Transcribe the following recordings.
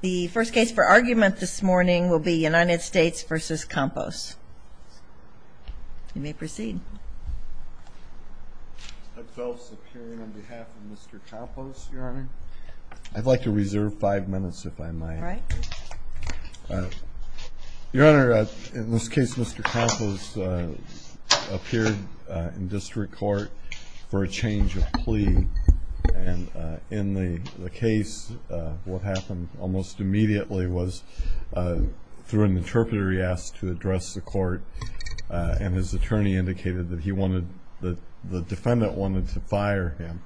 The first case for argument this morning will be United States v. Campos. You may proceed. I felt superior on behalf of Mr. Campos, Your Honor. I'd like to reserve five minutes, if I might. All right. Your Honor, in this case, Mr. Campos appeared in district court for a change of plea. And in the case, what happened almost immediately was, through an interpreter he asked to address the court, and his attorney indicated that the defendant wanted to fire him.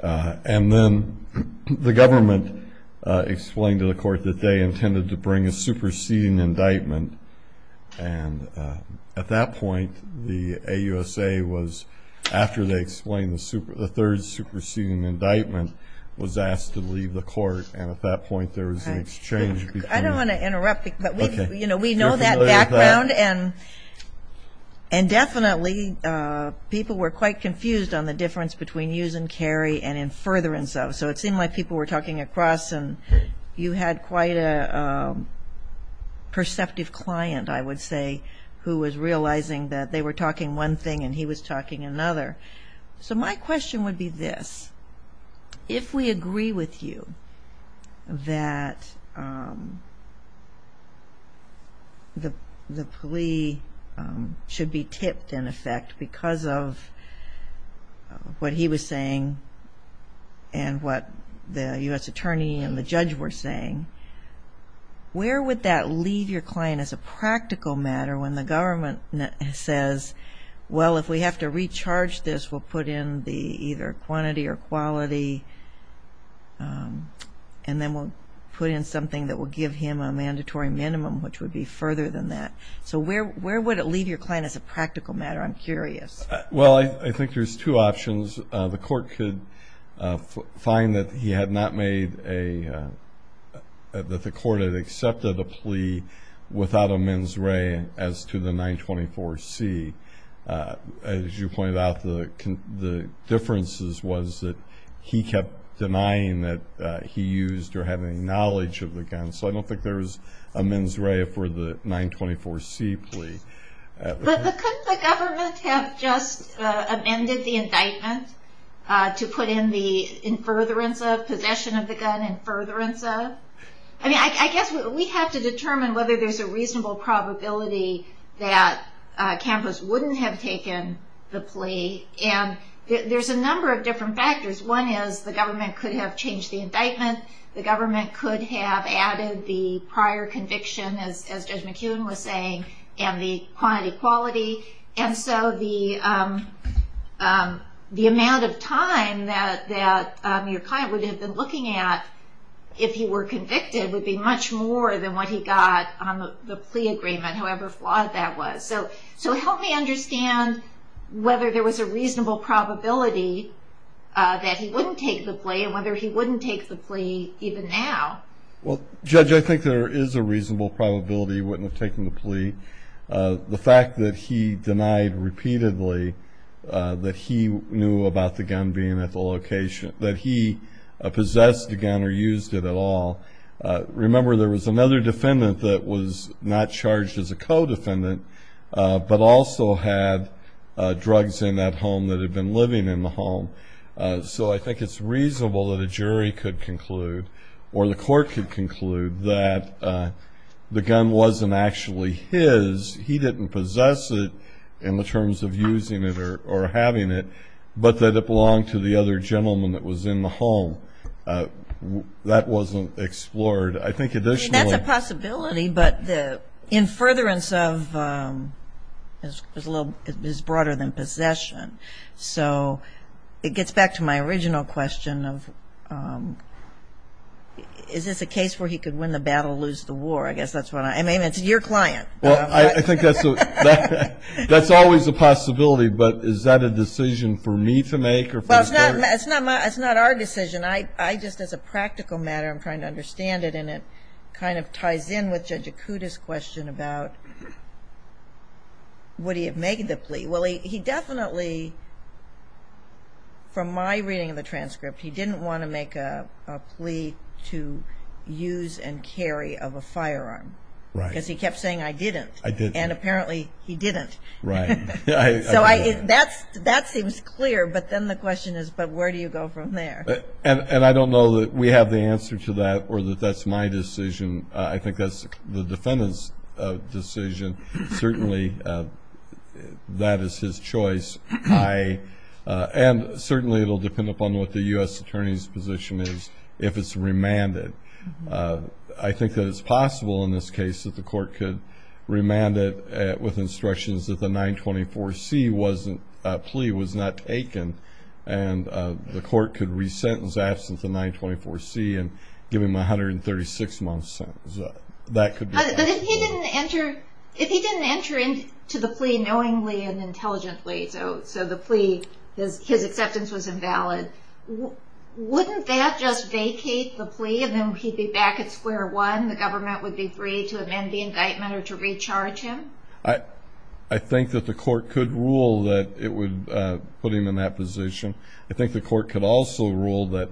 And then the government explained to the court that they intended to bring a superseding indictment. And at that point, the AUSA was, after they explained the third superseding indictment, was asked to leave the court, and at that point there was an exchange between. I don't want to interrupt, but we know that background, and definitely people were quite confused on the difference between use and carry and in furtherance of. So it seemed like people were talking across, and you had quite a perceptive client, I would say, who was realizing that they were talking one thing and he was talking another. So my question would be this. If we agree with you that the plea should be tipped, in effect, because of what he was saying and what the U.S. attorney and the judge were saying, where would that leave your client as a practical matter when the government says, well, if we have to recharge this, we'll put in the either quantity or quality, and then we'll put in something that will give him a mandatory minimum, which would be further than that. So where would it leave your client as a practical matter? I'm curious. Well, I think there's two options. The court could find that the court had accepted a plea without a mens re as to the 924C. As you pointed out, the difference was that he kept denying that he used or had any knowledge of the gun. So I don't think there's a mens re for the 924C plea. But couldn't the government have just amended the indictment to put in the in furtherance of, possession of the gun in furtherance of? I mean, I guess we have to determine whether there's a reasonable probability that Campos wouldn't have taken the plea, and there's a number of different factors. One is the government could have changed the indictment. The government could have added the prior conviction, as Judge McKeown was saying, and the quantity, quality. And so the amount of time that your client would have been looking at if he were convicted would be much more than what he got on the plea agreement, however flawed that was. So help me understand whether there was a reasonable probability that he wouldn't take the plea and whether he wouldn't take the plea even now. Well, Judge, I think there is a reasonable probability he wouldn't have taken the plea. The fact that he denied repeatedly that he knew about the gun being at the location, that he possessed the gun or used it at all. Remember, there was another defendant that was not charged as a co-defendant but also had drugs in that home that had been living in the home. So I think it's reasonable that a jury could conclude or the court could conclude that the gun wasn't actually his. He didn't possess it in the terms of using it or having it, but that it belonged to the other gentleman that was in the home. That wasn't explored. I think additionally. I mean, that's a possibility, but the in furtherance of is broader than possession. So it gets back to my original question of is this a case where he could win the battle, lose the war? I guess that's what I'm. I mean, it's your client. Well, I think that's always a possibility, but is that a decision for me to make? Well, it's not our decision. I just as a practical matter am trying to understand it and it kind of ties in with Judge Acuda's question about would he have made the plea. Well, he definitely, from my reading of the transcript, he didn't want to make a plea to use and carry of a firearm because he kept saying I didn't. I didn't. And apparently he didn't. Right. So that seems clear, but then the question is, but where do you go from there? And I don't know that we have the answer to that or that that's my decision. I think that's the defendant's decision. Certainly that is his choice. And certainly it will depend upon what the U.S. attorney's position is if it's remanded. I think that it's possible in this case that the court could remand it with instructions that the 924C plea was not taken and the court could re-sentence absent the 924C and give him a 136-month sentence. That could be possible. But if he didn't enter into the plea knowingly and intelligently, so the plea, his acceptance was invalid, wouldn't that just vacate the plea and then he'd be back at square one, the government would be free to amend the indictment or to recharge him? I think that the court could rule that it would put him in that position. I think the court could also rule that,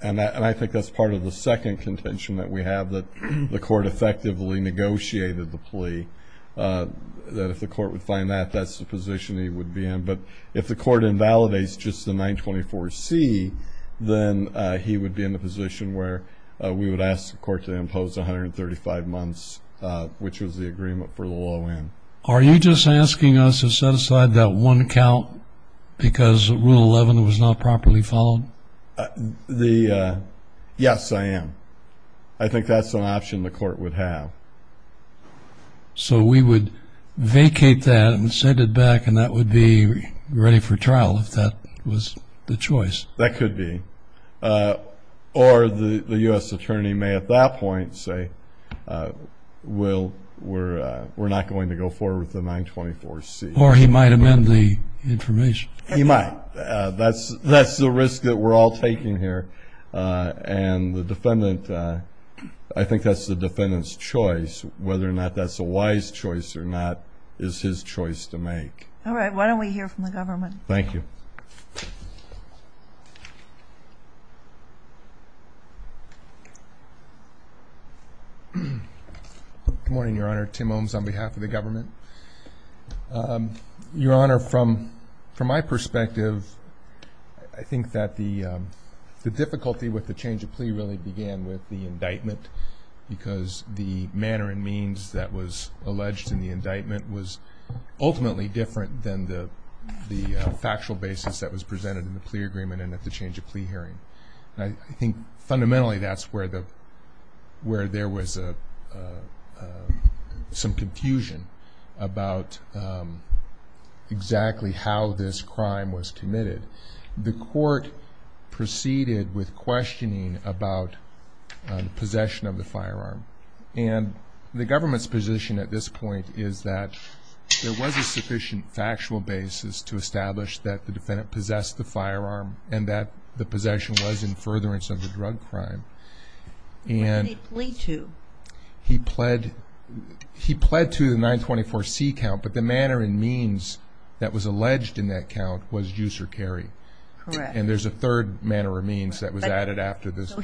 and I think that's part of the second contention that we have, that the court effectively negotiated the plea, that if the court would find that, that's the position he would be in. But if the court invalidates just the 924C, then he would be in the position where we would ask the court to impose 135 months, which was the agreement for the low end. Are you just asking us to set aside that one count because Rule 11 was not properly followed? Yes, I am. I think that's an option the court would have. So we would vacate that and send it back, and that would be ready for trial if that was the choice? That could be. Or the U.S. attorney may at that point say, we're not going to go forward with the 924C. Or he might amend the information. He might. That's the risk that we're all taking here, and I think that's the defendant's choice. Whether or not that's a wise choice or not is his choice to make. All right, why don't we hear from the government? Thank you. Good morning, Your Honor. Tim Ohms on behalf of the government. Your Honor, from my perspective, I think that the difficulty with the change of plea really began with the indictment because the manner and means that was alleged in the indictment was ultimately different than the factual basis that was presented in the plea agreement and at the change of plea hearing. I think fundamentally that's where there was some confusion about exactly how this crime was committed. The court proceeded with questioning about possession of the firearm, and the government's position at this point is that there was a sufficient factual basis to establish that the defendant possessed the firearm and that the possession was in furtherance of the drug crime. What did he plea to? He pled to the 924C count, but the manner and means that was alleged in that count was use or carry. Correct. And there's a third manner or means that was added after this.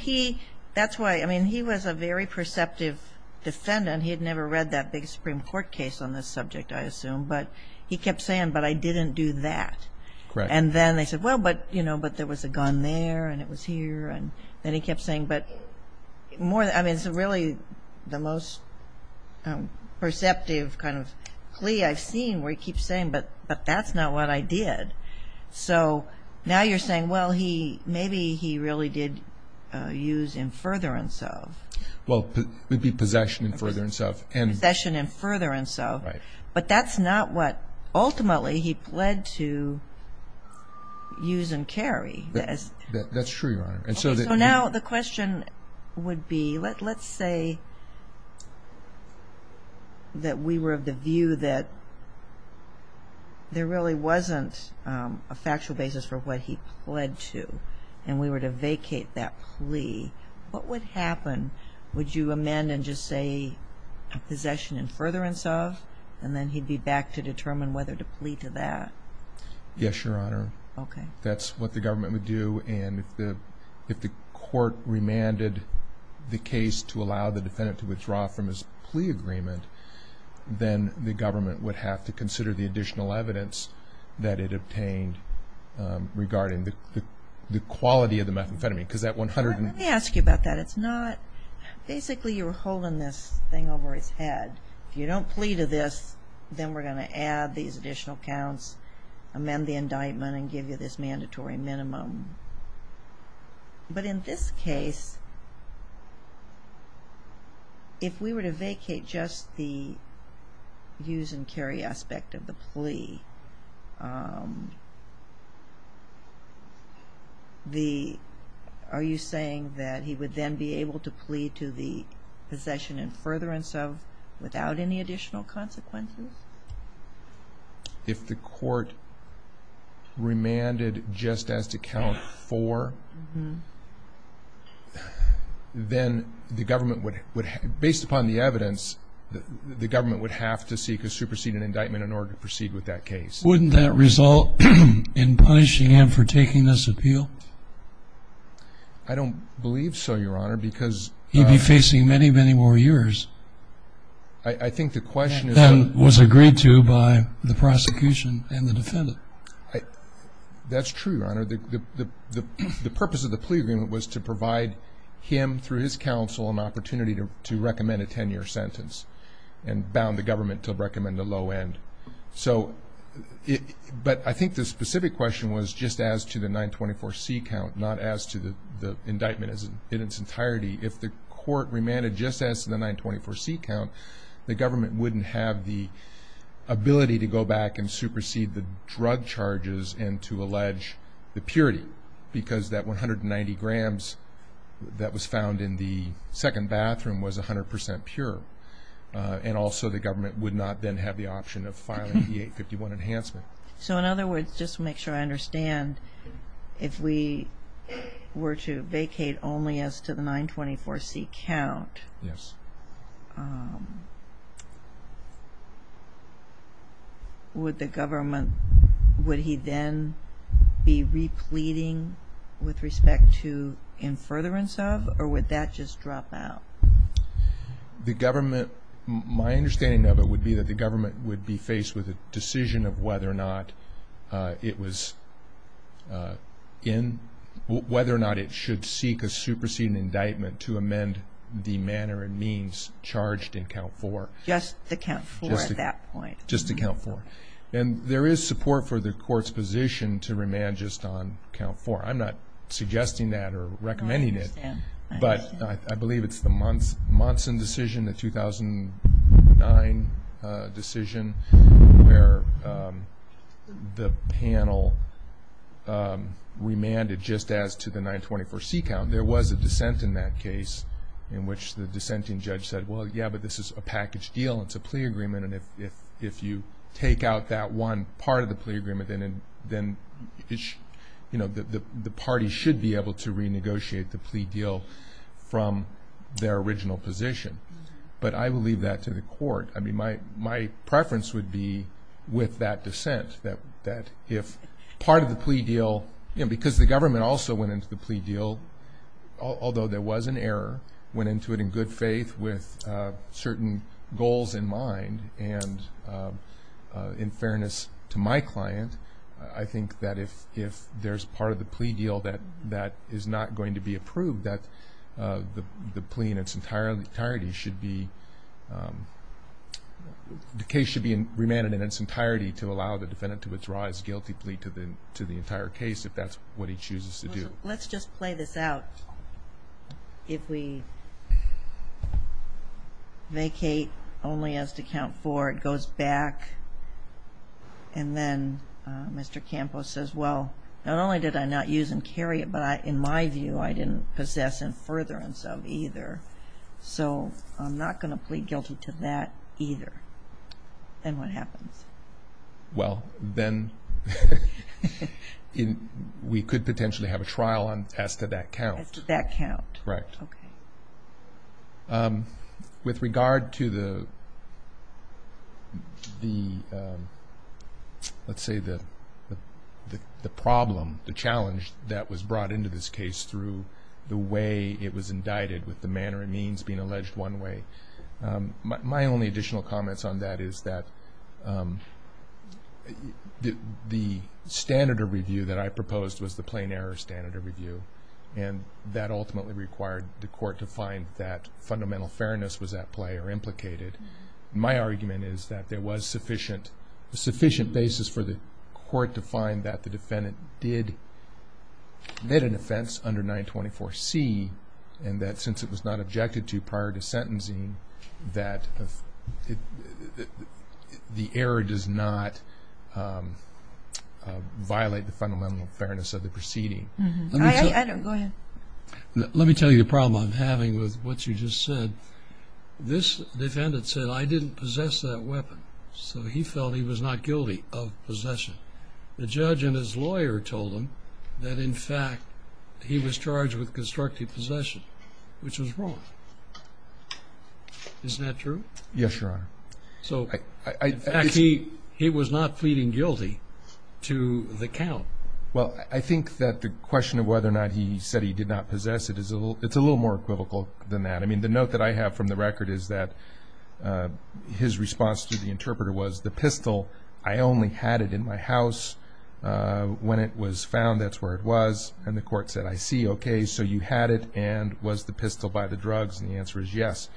That's why, I mean, he was a very perceptive defendant. But he kept saying, but I didn't do that. Correct. And then they said, well, but, you know, but there was a gun there and it was here, and then he kept saying, but more, I mean, it's really the most perceptive kind of plea I've seen where he keeps saying, but that's not what I did. So now you're saying, well, he, maybe he really did use in furtherance of. Well, it would be possession in furtherance of. Possession in furtherance of. Right. But that's not what ultimately he pled to use and carry. That's true, Your Honor. So now the question would be, let's say that we were of the view that there really wasn't a factual basis for what he pled to and we were to vacate that plea. What would happen? Would you amend and just say possession in furtherance of, and then he'd be back to determine whether to plea to that? Yes, Your Honor. Okay. That's what the government would do. And if the court remanded the case to allow the defendant to withdraw from his plea agreement, then the government would have to consider the additional evidence that it obtained regarding the quality of the methamphetamine. Let me ask you about that. It's not, basically you're holding this thing over his head. If you don't plea to this, then we're going to add these additional counts, amend the indictment, and give you this mandatory minimum. But in this case, if we were to vacate just the use and carry aspect of the plea, are you saying that he would then be able to plea to the possession in furtherance of without any additional consequences? If the court remanded just as to count four, then the government would, based upon the evidence, the government would have to seek a superseded indictment in order to proceed with that case. Wouldn't that result in punishing him for taking this appeal? I don't believe so, Your Honor, because he'd be facing many, many more years than was agreed to by the prosecution and the defendant. That's true, Your Honor. The purpose of the plea agreement was to provide him, through his counsel, an opportunity to recommend a 10-year sentence and bound the government to recommend a low end. But I think the specific question was just as to the 924C count, not as to the indictment in its entirety. If the court remanded just as to the 924C count, the government wouldn't have the ability to go back and supersede the drug charges and to allege the purity because that 190 grams that was found in the second bathroom was 100% pure. And also the government would not then have the option of filing the 851 enhancement. So in other words, just to make sure I understand, if we were to vacate only as to the 924C count, yes, would the government, would he then be repleting with respect to in furtherance of or would that just drop out? The government, my understanding of it would be that the government would be faced with a decision of whether or not it was in, whether or not it should seek a superseding indictment to amend the manner and means charged in count four. Just the count four at that point. Just the count four. And there is support for the court's position to remand just on count four. I'm not suggesting that or recommending it. No, I understand. But I believe it's the Monson decision, the 2009 decision, where the panel remanded just as to the 924C count. There was a dissent in that case in which the dissenting judge said, well, yeah, but this is a package deal. It's a plea agreement, and if you take out that one part of the plea agreement, then, you know, the party should be able to renegotiate the plea deal from their original position. But I would leave that to the court. I mean, my preference would be with that dissent that if part of the plea deal, you know, because the government also went into the plea deal, although there was an error, went into it in good faith with certain goals in mind, and in fairness to my client, I think that if there's part of the plea deal that is not going to be approved, that the plea in its entirety should be, the case should be remanded in its entirety to allow the defendant to withdraw his guilty plea to the entire case if that's what he chooses to do. So let's just play this out. If we vacate only as to count four, it goes back, and then Mr. Campos says, well, not only did I not use and carry it, but in my view, I didn't possess and furtherance of either. So I'm not going to plead guilty to that either. Then what happens? Well, then we could potentially have a trial as to that count. As to that count. Correct. Okay. With regard to the, let's say, the problem, the challenge that was brought into this case through the way it was indicted with the manner it means being alleged one way, my only additional comments on that is that the standard of review that I proposed was the plain error standard of review, and that ultimately required the court to find that fundamental fairness was at play or implicated. My argument is that there was sufficient basis for the court to find that the defendant did, commit an offense under 924C, and that since it was not objected to prior to sentencing, that the error does not violate the fundamental fairness of the proceeding. Go ahead. Let me tell you the problem I'm having with what you just said. This defendant said, I didn't possess that weapon. So he felt he was not guilty of possession. The judge and his lawyer told him that, in fact, he was charged with constructive possession, which was wrong. Isn't that true? Yes, Your Honor. So, in fact, he was not pleading guilty to the count. Well, I think that the question of whether or not he said he did not possess it, it's a little more equivocal than that. I mean, the note that I have from the record is that his response to the interpreter was, the pistol, I only had it in my house. When it was found, that's where it was. And the court said, I see. Okay, so you had it and was the pistol by the drugs. And the answer is yes.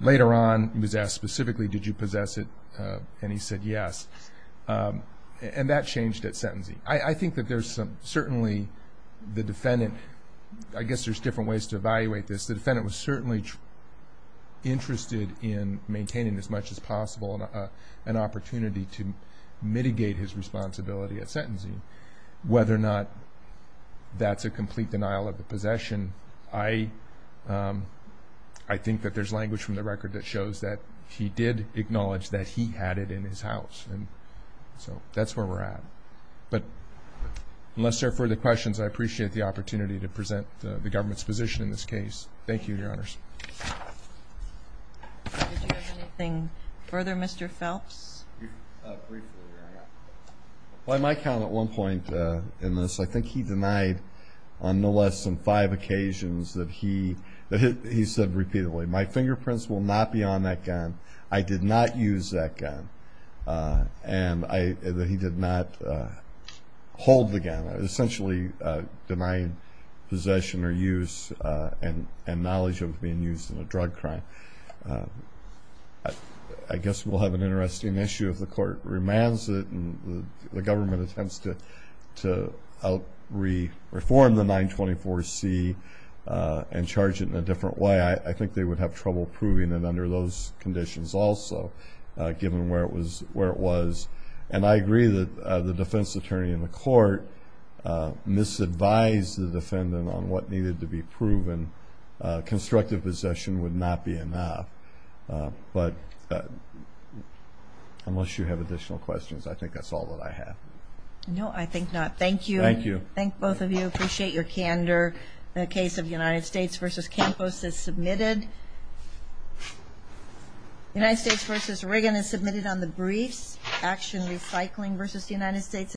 Later on, he was asked specifically, did you possess it? And he said yes. And that changed at sentencing. I think that there's certainly the defendant, I guess there's different ways to evaluate this. The defendant was certainly interested in maintaining, as much as possible, an opportunity to mitigate his responsibility at sentencing. Whether or not that's a complete denial of the possession, I think that there's language from the record that shows that he did acknowledge that he had it in his house. So that's where we're at. But unless there are further questions, I appreciate the opportunity to present the government's position in this case. Thank you, Your Honors. Did you have anything further, Mr. Phelps? Briefly, Your Honor. On my count at one point in this, I think he denied on no less than five occasions that he said repeatedly, my fingerprints will not be on that gun. And that he did not hold the gun. Essentially denying possession or use and knowledge of it being used in a drug crime. I guess we'll have an interesting issue if the court remands it and the government attempts to out-reform the 924C and charge it in a different way. I think they would have trouble proving it under those conditions also, given where it was. And I agree that the defense attorney in the court misadvised the defendant on what needed to be proven. Constructive possession would not be enough. But unless you have additional questions, I think that's all that I have. No, I think not. Thank you. Thank you. Thank both of you. Appreciate your candor. The case of United States v. Campos is submitted. United States v. Reagan is submitted on the briefs. Action Recycling v. United States is submitted.